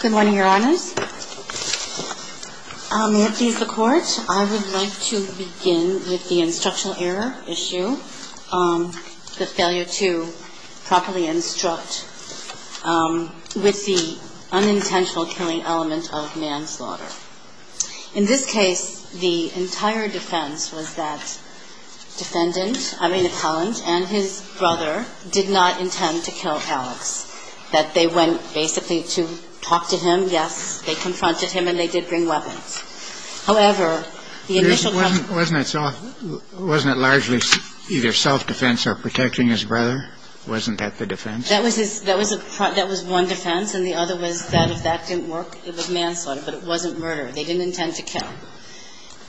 Good morning, Your Honors. I'll move these to court. I would like to begin with the instructional error issue, the failure to properly instruct with the unintentional killing element of manslaughter. In this case, the entire defense was that defendant, I mean, appellant and his brother did not intend to kill Alex, that they went basically to talk to him. Yes, they confronted him, and they did bring weapons. However, the initial Wasn't it largely either self-defense or protecting his brother? Wasn't that the defense? That was one defense, and the other was that if that didn't work, it was manslaughter, but it wasn't murder. They didn't intend to kill.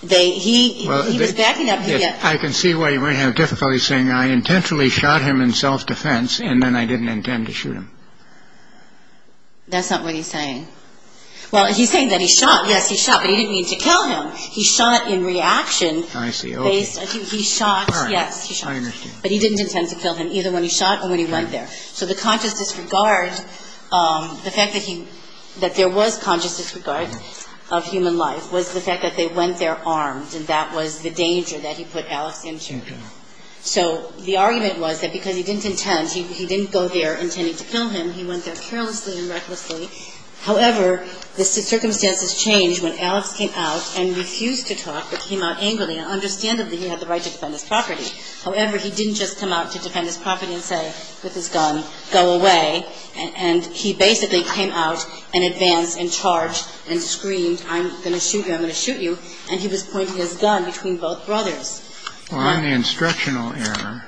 He was backing up. I can see why you might have difficulty saying I intentionally shot him in self-defense, and then I didn't intend to shoot him. That's not what he's saying. Well, he's saying that he shot. Yes, he shot, but he didn't mean to kill him. He shot in reaction. I see. He shot. Yes, he shot. But he didn't intend to kill him either when he shot or when he went there. So the conscious disregard, the fact that he that there was conscious disregard of human life was the fact that they went there armed, and that was the danger that he put Alex into. So the argument was that because he didn't intend, he didn't go there intending to kill him. He went there carelessly and recklessly. However, the circumstances changed when Alex came out and refused to talk, but came out angrily and understandably he had the right to defend his property. However, he didn't just come out to defend his property and say with his gun, go away. And he basically came out and advanced and charged and screamed, I'm going to shoot you. I'm going to shoot you. And he was pointing his gun between both brothers. Well, on the instructional error,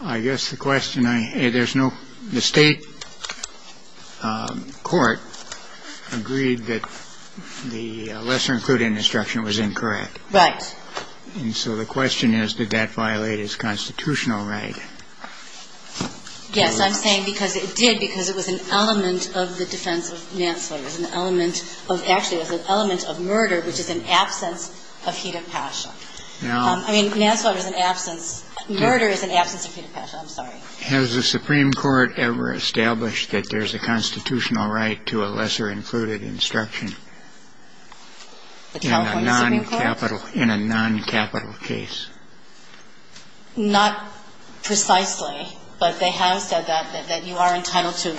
I guess the question I there's no the state court agreed that the lesser included instruction was incorrect. Right. And so the question is, did that violate his constitutional right? Yes, I'm saying because it did, because it was an element of the defense of Nance voters, an element of actually was an element of murder, which is an absence of heat of passion. I mean, Nance voters, an absence. Murder is an absence of heat of passion. I'm sorry. Has the Supreme Court ever established that there's a constitutional right to a lesser included instruction? In a noncapital, in a noncapital case? Not precisely, but they have said that you are entitled to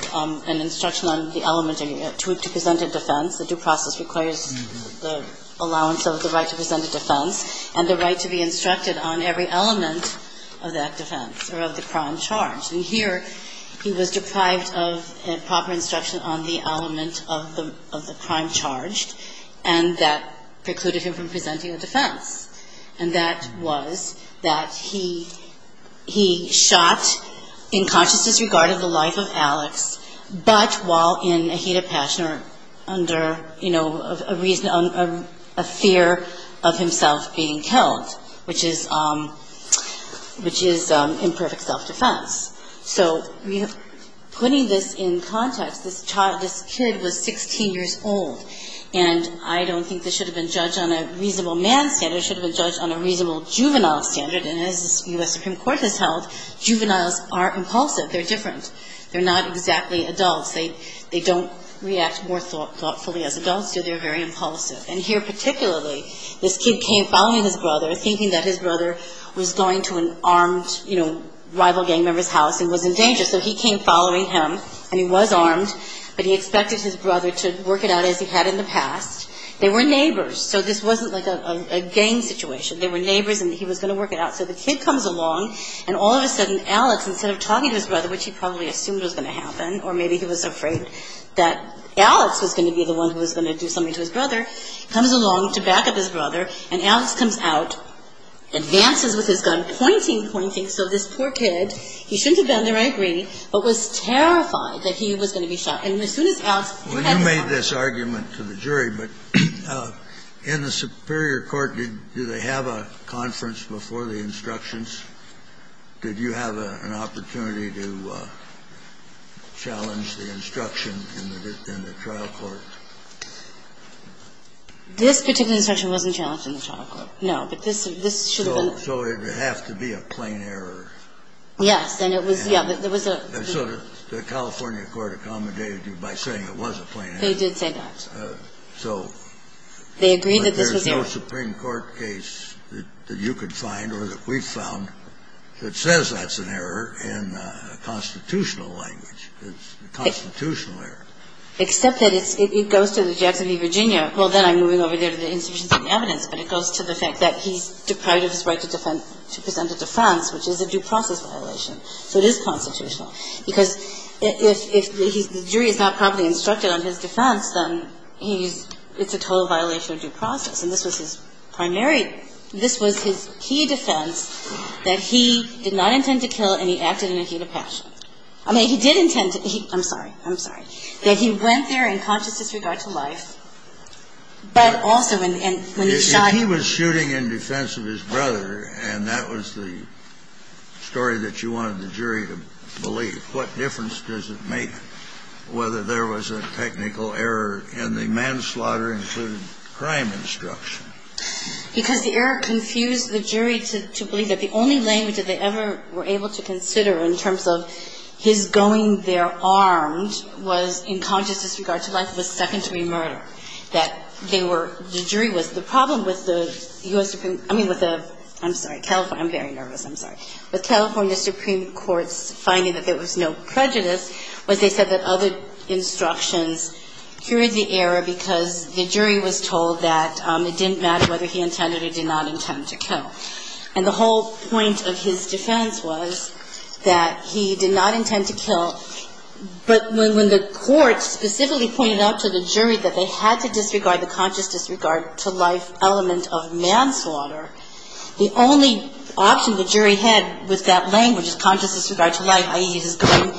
an instruction on the element to present a defense. The due process requires the allowance of the right to present a defense and the right to be instructed on every element of that defense or of the crime charge. And here he was deprived of a proper instruction on the element of the of the crime charged and that precluded him from presenting a defense. And that was that he he shot in consciousness regard of the life of Alex. But while in a heat of passion or under, you know, a reason, a fear of himself being killed, which is which is imperfect self-defense. So putting this in context, this child, this kid was 16 years old. And I don't think this should have been judged on a reasonable man standard. It should have been judged on a reasonable juvenile standard. And as the U.S. Supreme Court has held, juveniles are impulsive. They're different. They're not exactly adults. They don't react more thoughtfully as adults do. They're very impulsive. And here particularly, this kid came following his brother, thinking that his brother was going to an armed, you know, rival gang member's house and was in danger. So he came following him. And he was armed. But he expected his brother to work it out as he had in the past. They were neighbors. So this wasn't like a gang situation. They were neighbors. And he was going to work it out. So the kid comes along. And all of a sudden, Alex, instead of talking to his brother, which he probably assumed was going to happen, or maybe he was afraid that Alex was going to be the one who was going to do something to his brother, comes along to back up his brother. And Alex comes out, advances with his gun, pointing, pointing. So this poor kid, he shouldn't have been there, I agree, but was terrified that he was going to be shot. And as soon as Alex, who had the gun. Kennedy, when you made this argument to the jury, but in the superior court, did they have a conference before the instructions? Did you have an opportunity to challenge the instruction in the trial court? This particular instruction wasn't challenged in the trial court, no. But this should have been. So it would have to be a plain error. Yes. And it was, yeah, but there was a. And so the California court accommodated you by saying it was a plain error. They did say that. So. They agreed that this was an error. But there's no Supreme Court case that you could find or that we've found that says that's an error in a constitutional language. It's a constitutional error. Except that it's, it goes to the Jackson v. Virginia. Well, then I'm moving over there to the institutions of evidence. But it goes to the fact that he's deprived of his right to defend, to present it to France, which is a due process violation. So it is constitutional. Because if the jury is not properly instructed on his defense, then he's, it's a total violation of due process. And this was his primary, this was his key defense that he did not intend to kill and he acted in a heat of passion. I mean, he did intend to, he, I'm sorry, I'm sorry. That he went there in conscious disregard to life, but also when he shot. He was shooting in defense of his brother, and that was the story that you wanted the jury to believe. What difference does it make whether there was a technical error in the manslaughter-included-crime instruction? Because the error confused the jury to believe that the only language that they ever were able to consider in terms of his going there armed was in conscious disregard to life, was secondary murder. That they were, the jury was, the problem with the U.S. Supreme, I mean with the, I'm sorry, California, I'm very nervous, I'm sorry. With California Supreme Court's finding that there was no prejudice was they said that other instructions cured the error because the jury was told that it didn't matter whether he intended or did not intend to kill. And the whole point of his defense was that he did not intend to kill, but when the court specifically pointed out to the jury that they had to disregard the conscious disregard to life element of manslaughter, the only option the jury had with that language of conscious disregard to life, i.e. his going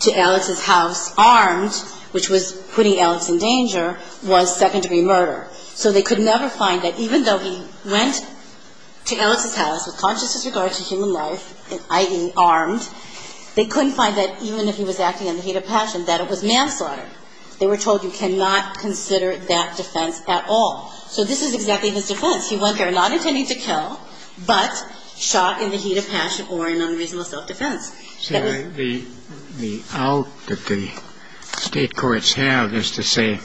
to Alex's house armed, which was putting Alex in danger, was second-degree murder. So they could never find that even though he went to Alex's house with conscious disregard to human life, i.e. armed, they couldn't find that even if he was acting in the heat of passion, that it was manslaughter. They were told you cannot consider that defense at all. So this is exactly his defense. He went there not intending to kill, but shot in the heat of passion or in unreasonable self-defense. So the out that the state courts have is to say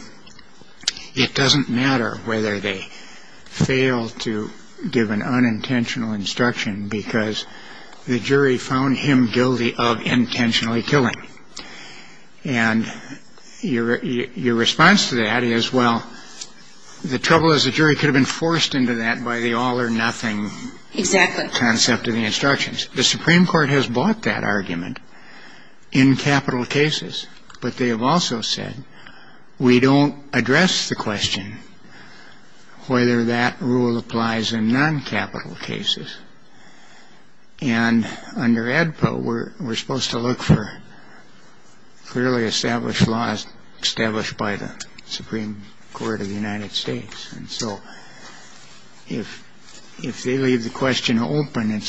it doesn't matter whether they fail to give an unintentional instruction because the jury found him guilty of intentionally killing. And your response to that is, well, the trouble is the jury could have been forced into that by the all or nothing concept of the instructions. The Supreme Court has bought that argument in capital cases. But they have also said we don't address the question whether that rule applies in non-capital cases. And under AEDPA, we're supposed to look for clearly established laws established by the Supreme Court of the United States. And so if they leave the question open,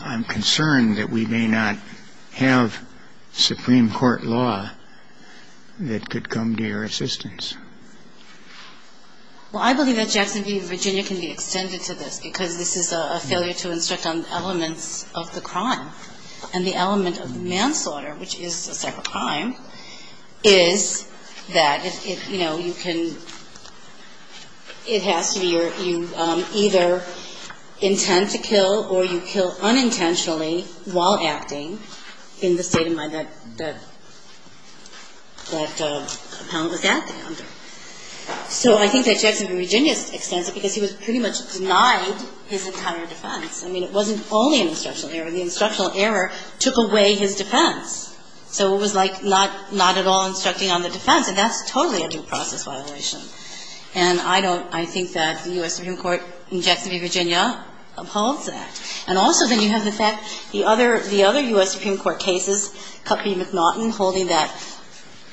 I'm concerned that we may not have Supreme Court law that could come to your assistance. Well, I believe that Jackson v. Virginia can be extended to this because this is a failure to instruct on elements of the crime. And the element of manslaughter, which is a separate crime, is that it has to be you either intend to kill or you kill unintentionally while acting in the state of mind that the appellant was acting under. So I think that Jackson v. Virginia extends it because he was pretty much denied his entire defense. I mean, it wasn't only an instructional error. The instructional error took away his defense. So it was like not at all instructing on the defense. And that's totally a due process violation. And I don't ‑‑ I think that the U.S. Supreme Court in Jackson v. Virginia upholds that. And also then you have the fact the other U.S. Supreme Court cases, Cuthbert v. McNaughton, holding that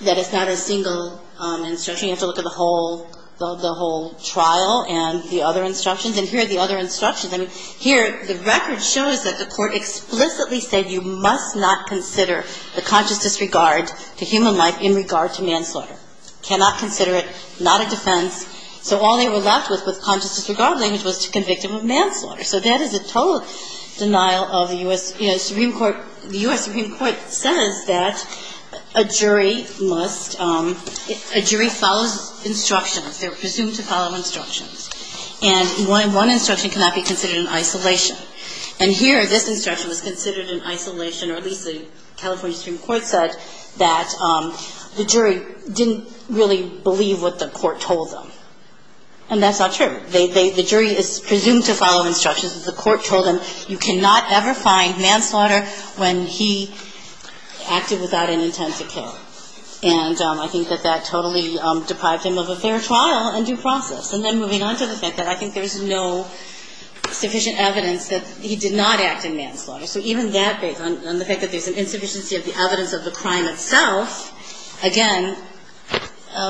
it's not a single instruction. You have to look at the whole trial and the other instructions. And here are the other instructions. I mean, here the record shows that the court explicitly said you must not consider the conscious disregard to human life in regard to manslaughter. Cannot consider it. Not a defense. So all they were left with was conscious disregard, which was to convict him of manslaughter. So that is a total denial of the U.S. Supreme Court. The U.S. Supreme Court says that a jury must ‑‑ a jury follows instructions. They're presumed to follow instructions. And one instruction cannot be considered in isolation. And here this instruction was considered in isolation, or at least the California Supreme Court said, that the jury didn't really believe what the court told them. And that's not true. The jury is presumed to follow instructions. The court told them you cannot ever find manslaughter when he acted without an intent to kill. And I think that that totally deprived him of a fair trial and due process. And then moving on to the fact that I think there's no sufficient evidence that he did not act in manslaughter. So even that, based on the fact that there's an insufficiency of the evidence of the crime itself, again,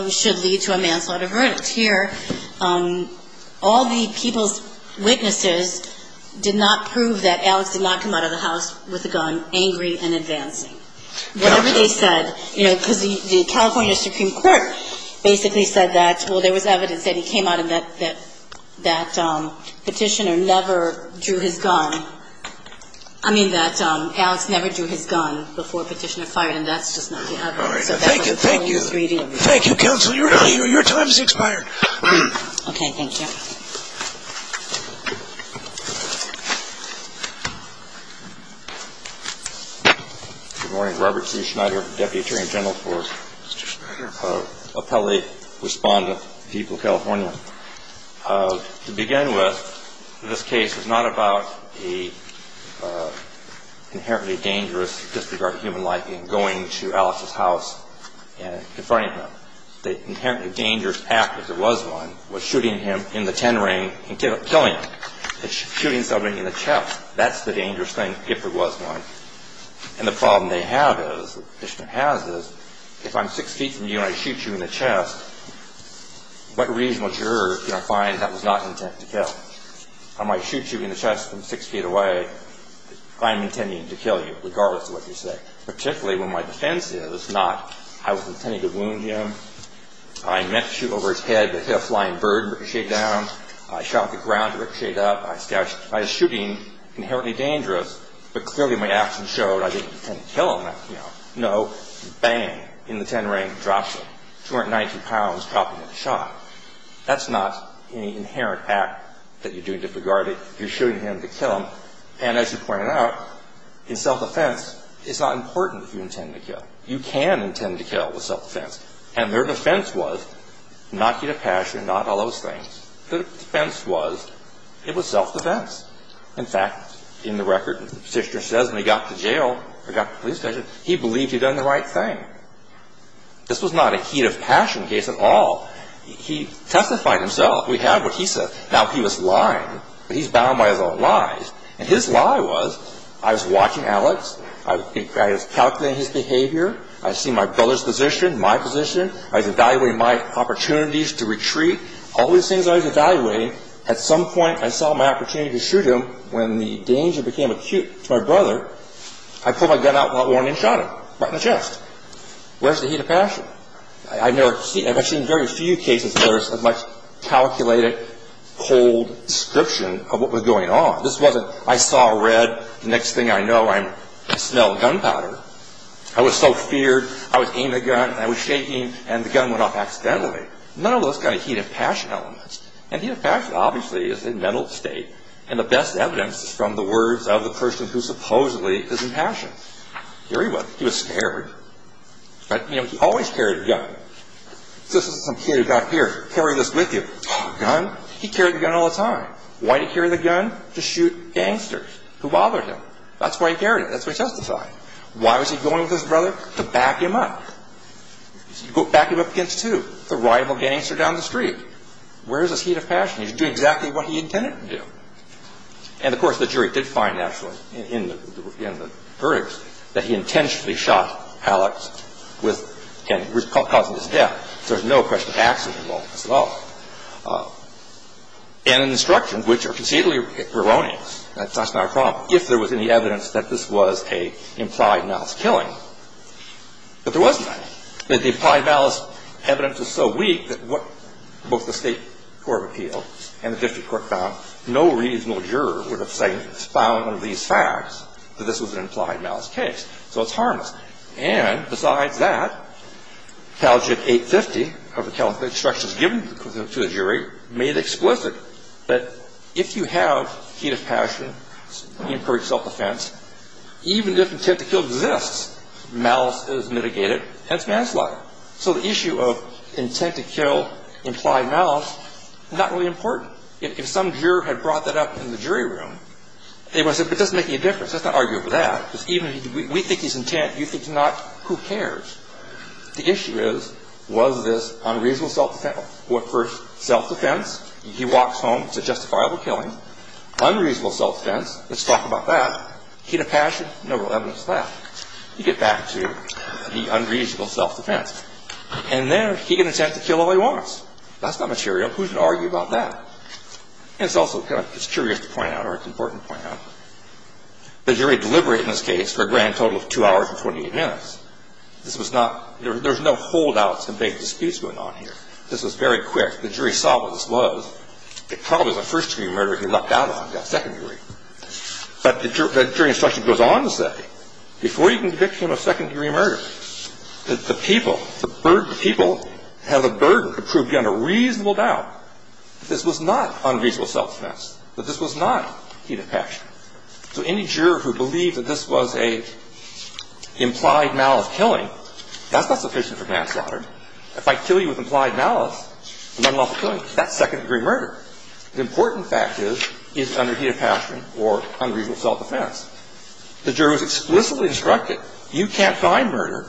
should lead to a manslaughter verdict. Here all the people's witnesses did not prove that Alex did not come out of the house with a gun, angry and advancing. Whatever they said, you know, because the California Supreme Court basically said that, well, there was evidence that he came out and that Petitioner never drew his gun. I mean, that Alex never drew his gun before Petitioner fired. And that's just not the evidence. So that's what I'm telling you. Thank you. Thank you, Counsel. Your time has expired. Okay. Thank you. Good morning. Good morning. Robert C. Schneider, Deputy Attorney General for Appellate Respondent for the people of California. To begin with, this case is not about an inherently dangerous disregard of human life in going to Alex's house and confronting him. The inherently dangerous act, if there was one, was shooting him in the ten ring and killing him. Shooting somebody in the chest, that's the dangerous thing if there was one. And the problem they have is, Petitioner has is, if I'm six feet from you and I shoot you in the chest, what reason would you find that was not intent to kill? I might shoot you in the chest from six feet away if I'm intending to kill you, regardless of what you say. Particularly when my defense is not, I was intending to wound him. I meant to shoot over his head, but he had a flying bird ricochet down. I shot the ground to ricochet it up. I was shooting inherently dangerous, but clearly my action showed I didn't intend to kill him. No. Bang. In the ten ring. Drops him. 290 pounds. Dropped him in the shot. That's not an inherent act that you're doing to disregard it. You're shooting him to kill him. And as you pointed out, in self-defense, it's not important if you intend to kill. You can intend to kill with self-defense. And their defense was not heat of passion, not all those things. Their defense was, it was self-defense. In fact, in the record, Petitioner says when he got to jail, or got to the police station, he believed he'd done the right thing. This was not a heat of passion case at all. He testified himself. We have what he said. Now, he was lying, but he's bound by his own lies. And his lie was, I was watching Alex. I was calculating his behavior. I was seeing my brother's position, my position. I was evaluating my opportunities to retreat. All these things I was evaluating. At some point, I saw my opportunity to shoot him. When the danger became acute to my brother, I pulled my gun out without warning and shot him. Right in the chest. Where's the heat of passion? I've seen very few cases where there's as much calculated, cold description of what was going on. This wasn't, I saw red. The next thing I know, I smell gunpowder. I was so feared. I was aiming the gun, and I was shaking, and the gun went off accidentally. None of those kind of heat of passion elements. And heat of passion, obviously, is a mental state. And the best evidence is from the words of the person who supposedly is in passion. Here he was. He was scared. You know, he always carried a gun. This is some kid who got here. Carry this with you. Gun? He carried the gun all the time. Why did he carry the gun? To shoot gangsters who bothered him. That's why he carried it. That's what he testified. Why was he going with his brother? To back him up. Back him up against who? The rival gangster down the street. Where is his heat of passion? He was doing exactly what he intended to do. And, of course, the jury did find, actually, in the verdicts, that he intentionally shot Alex causing his death. So there's no question of accident involved in this at all. And the instructions, which are conceitually erroneous. That's not a problem if there was any evidence that this was an implied malice killing. But there wasn't any. The implied malice evidence was so weak that both the State Court of Appeals and the district court found no reasonable juror would have found one of these facts that this was an implied malice case. So it's harmless. And, besides that, Caljit 850, of the instructions given to the jury, made explicit that if you have heat of passion, you incurred self-defense, even if intent to kill exists, malice is mitigated, hence manslaughter. So the issue of intent to kill, implied malice, not really important. If some juror had brought that up in the jury room, they would have said, but it doesn't make any difference. Let's not argue over that. Because even if we think he's intent, you think he's not, who cares? The issue is, was this unreasonable self-defense? First, self-defense, he walks home, it's a justifiable killing. Unreasonable self-defense, let's talk about that. Heat of passion, no real evidence of that. You get back to the unreasonable self-defense. And there, he can attempt to kill all he wants. That's not material. Who's going to argue about that? And it's also kind of, it's curious to point out, or it's important to point out, the jury deliberated in this case for a grand total of two hours and 28 minutes. This was not, there was no holdouts and vague disputes going on here. This was very quick. The jury saw what this was. It probably was a first-degree murder if he lucked out on that second degree. But the jury instruction goes on to say, before you can convict him of second-degree murder, the people, the people have a burden to prove you under reasonable doubt that this was not unreasonable self-defense, that this was not heat of passion. So any juror who believed that this was an implied malice killing, that's not sufficient for manslaughter. If I kill you with implied malice and unlawful killing, that's second-degree murder. The important fact is, is it under heat of passion or unreasonable self-defense? The juror was explicitly instructed, you can't find murder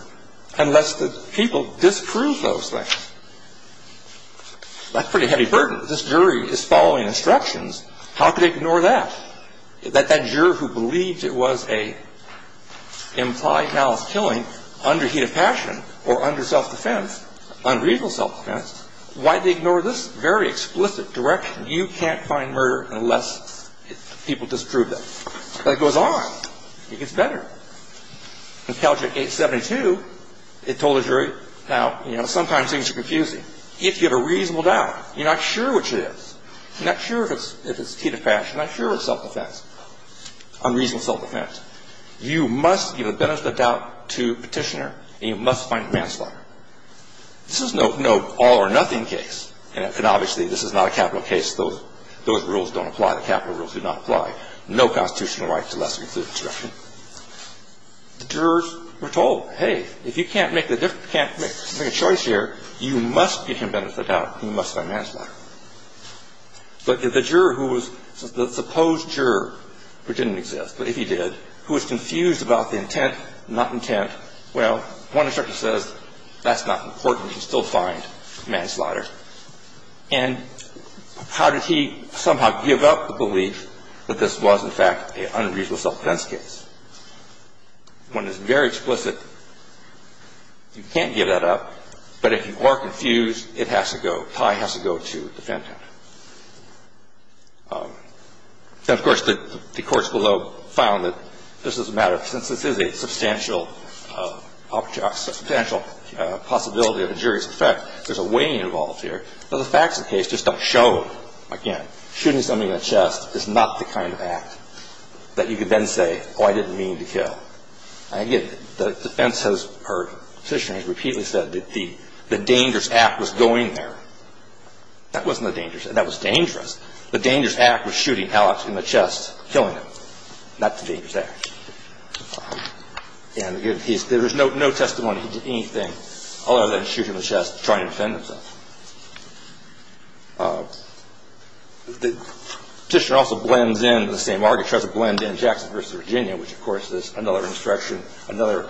unless the people disprove those things. That's pretty heavy burden. This jury is following instructions. How could they ignore that? That that juror who believed it was an implied malice killing under heat of passion or under self-defense, unreasonable self-defense, why did they ignore this very explicit direction? You can't find murder unless people disprove that. But it goes on. It gets better. In Caljit 872, it told the jury, now, you know, sometimes things are confusing. If you have a reasonable doubt, you're not sure which it is. You're not sure if it's heat of passion. You're not sure if it's self-defense, unreasonable self-defense. You must give a benefit of doubt to petitioner and you must find manslaughter. This is no all-or-nothing case. And obviously, this is not a capital case. Those rules don't apply. The capital rules do not apply. No constitutional right to less than exclusive instruction. The jurors were told, hey, if you can't make a choice here, you must give him benefit of doubt. You must find manslaughter. But the juror who was the supposed juror, which didn't exist, but if he did, who was confused about the intent, not intent, well, one instruction says that's not important. You can still find manslaughter. And how did he somehow give up the belief that this was, in fact, an unreasonable self-defense case? When it's very explicit, you can't give that up. But if you are confused, it has to go, the tie has to go to the defendant. Now, of course, the courts below found that this is a matter of, since this is a substantial possibility of injurious effect, there's a weighing involved here. But the facts of the case just don't show, again, shooting somebody in the chest is not the kind of act that you could then say, oh, I didn't mean to kill. Again, the defense has heard, the petitioner has repeatedly said that the dangerous act was going there. That wasn't the dangerous act. That was dangerous. The dangerous act was shooting Alex in the chest, killing him, not the dangerous act. And, again, there's no testimony he did anything other than shoot him in the chest to try and defend himself. The petitioner also blends in the same argument, tries to blend in Jackson v. Virginia, which, of course, is another instruction, another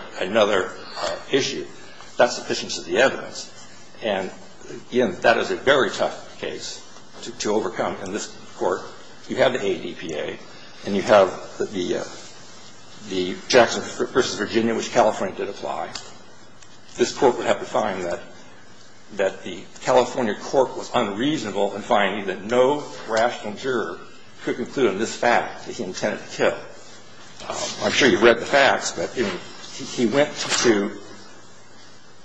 issue. That's sufficiency of the evidence. And, again, that is a very tough case to overcome. And this Court, you have the ADPA and you have the Jackson v. Virginia, which California did apply. This Court would have to find that the California court was unreasonable in finding that no rational juror could conclude on this fact that he intended to kill. I'm sure you've read the facts, but he went to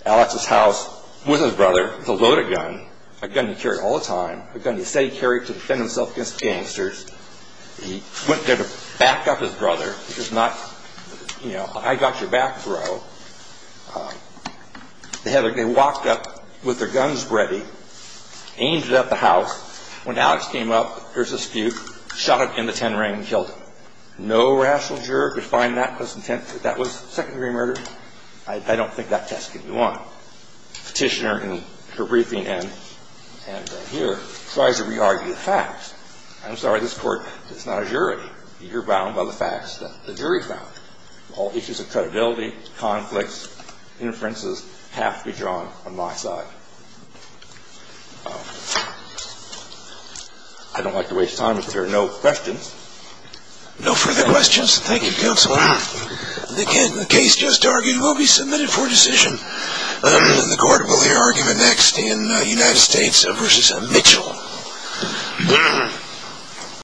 Alex's house with his brother to load a gun, a gun he carried all the time, a gun he said he carried to defend himself against gangsters. He went there to back up his brother. He was not, you know, I got your back, bro. They walked up with their guns ready, aimed it at the house. When Alex came up, there was a spook, shot him in the ten ring and killed him. No rational juror could find that was second-degree murder. I don't think that test can be won. Petitioner in her briefing and here tries to re-argue the facts. I'm sorry, this Court is not a jury. You're bound by the facts that the jury found. All issues of credibility, conflicts, inferences have to be drawn on my side. I don't like to waste time if there are no questions. No further questions. Thank you, Counselor. Again, the case just argued will be submitted for decision. The Court will hear argument next in United States v. Mitchell.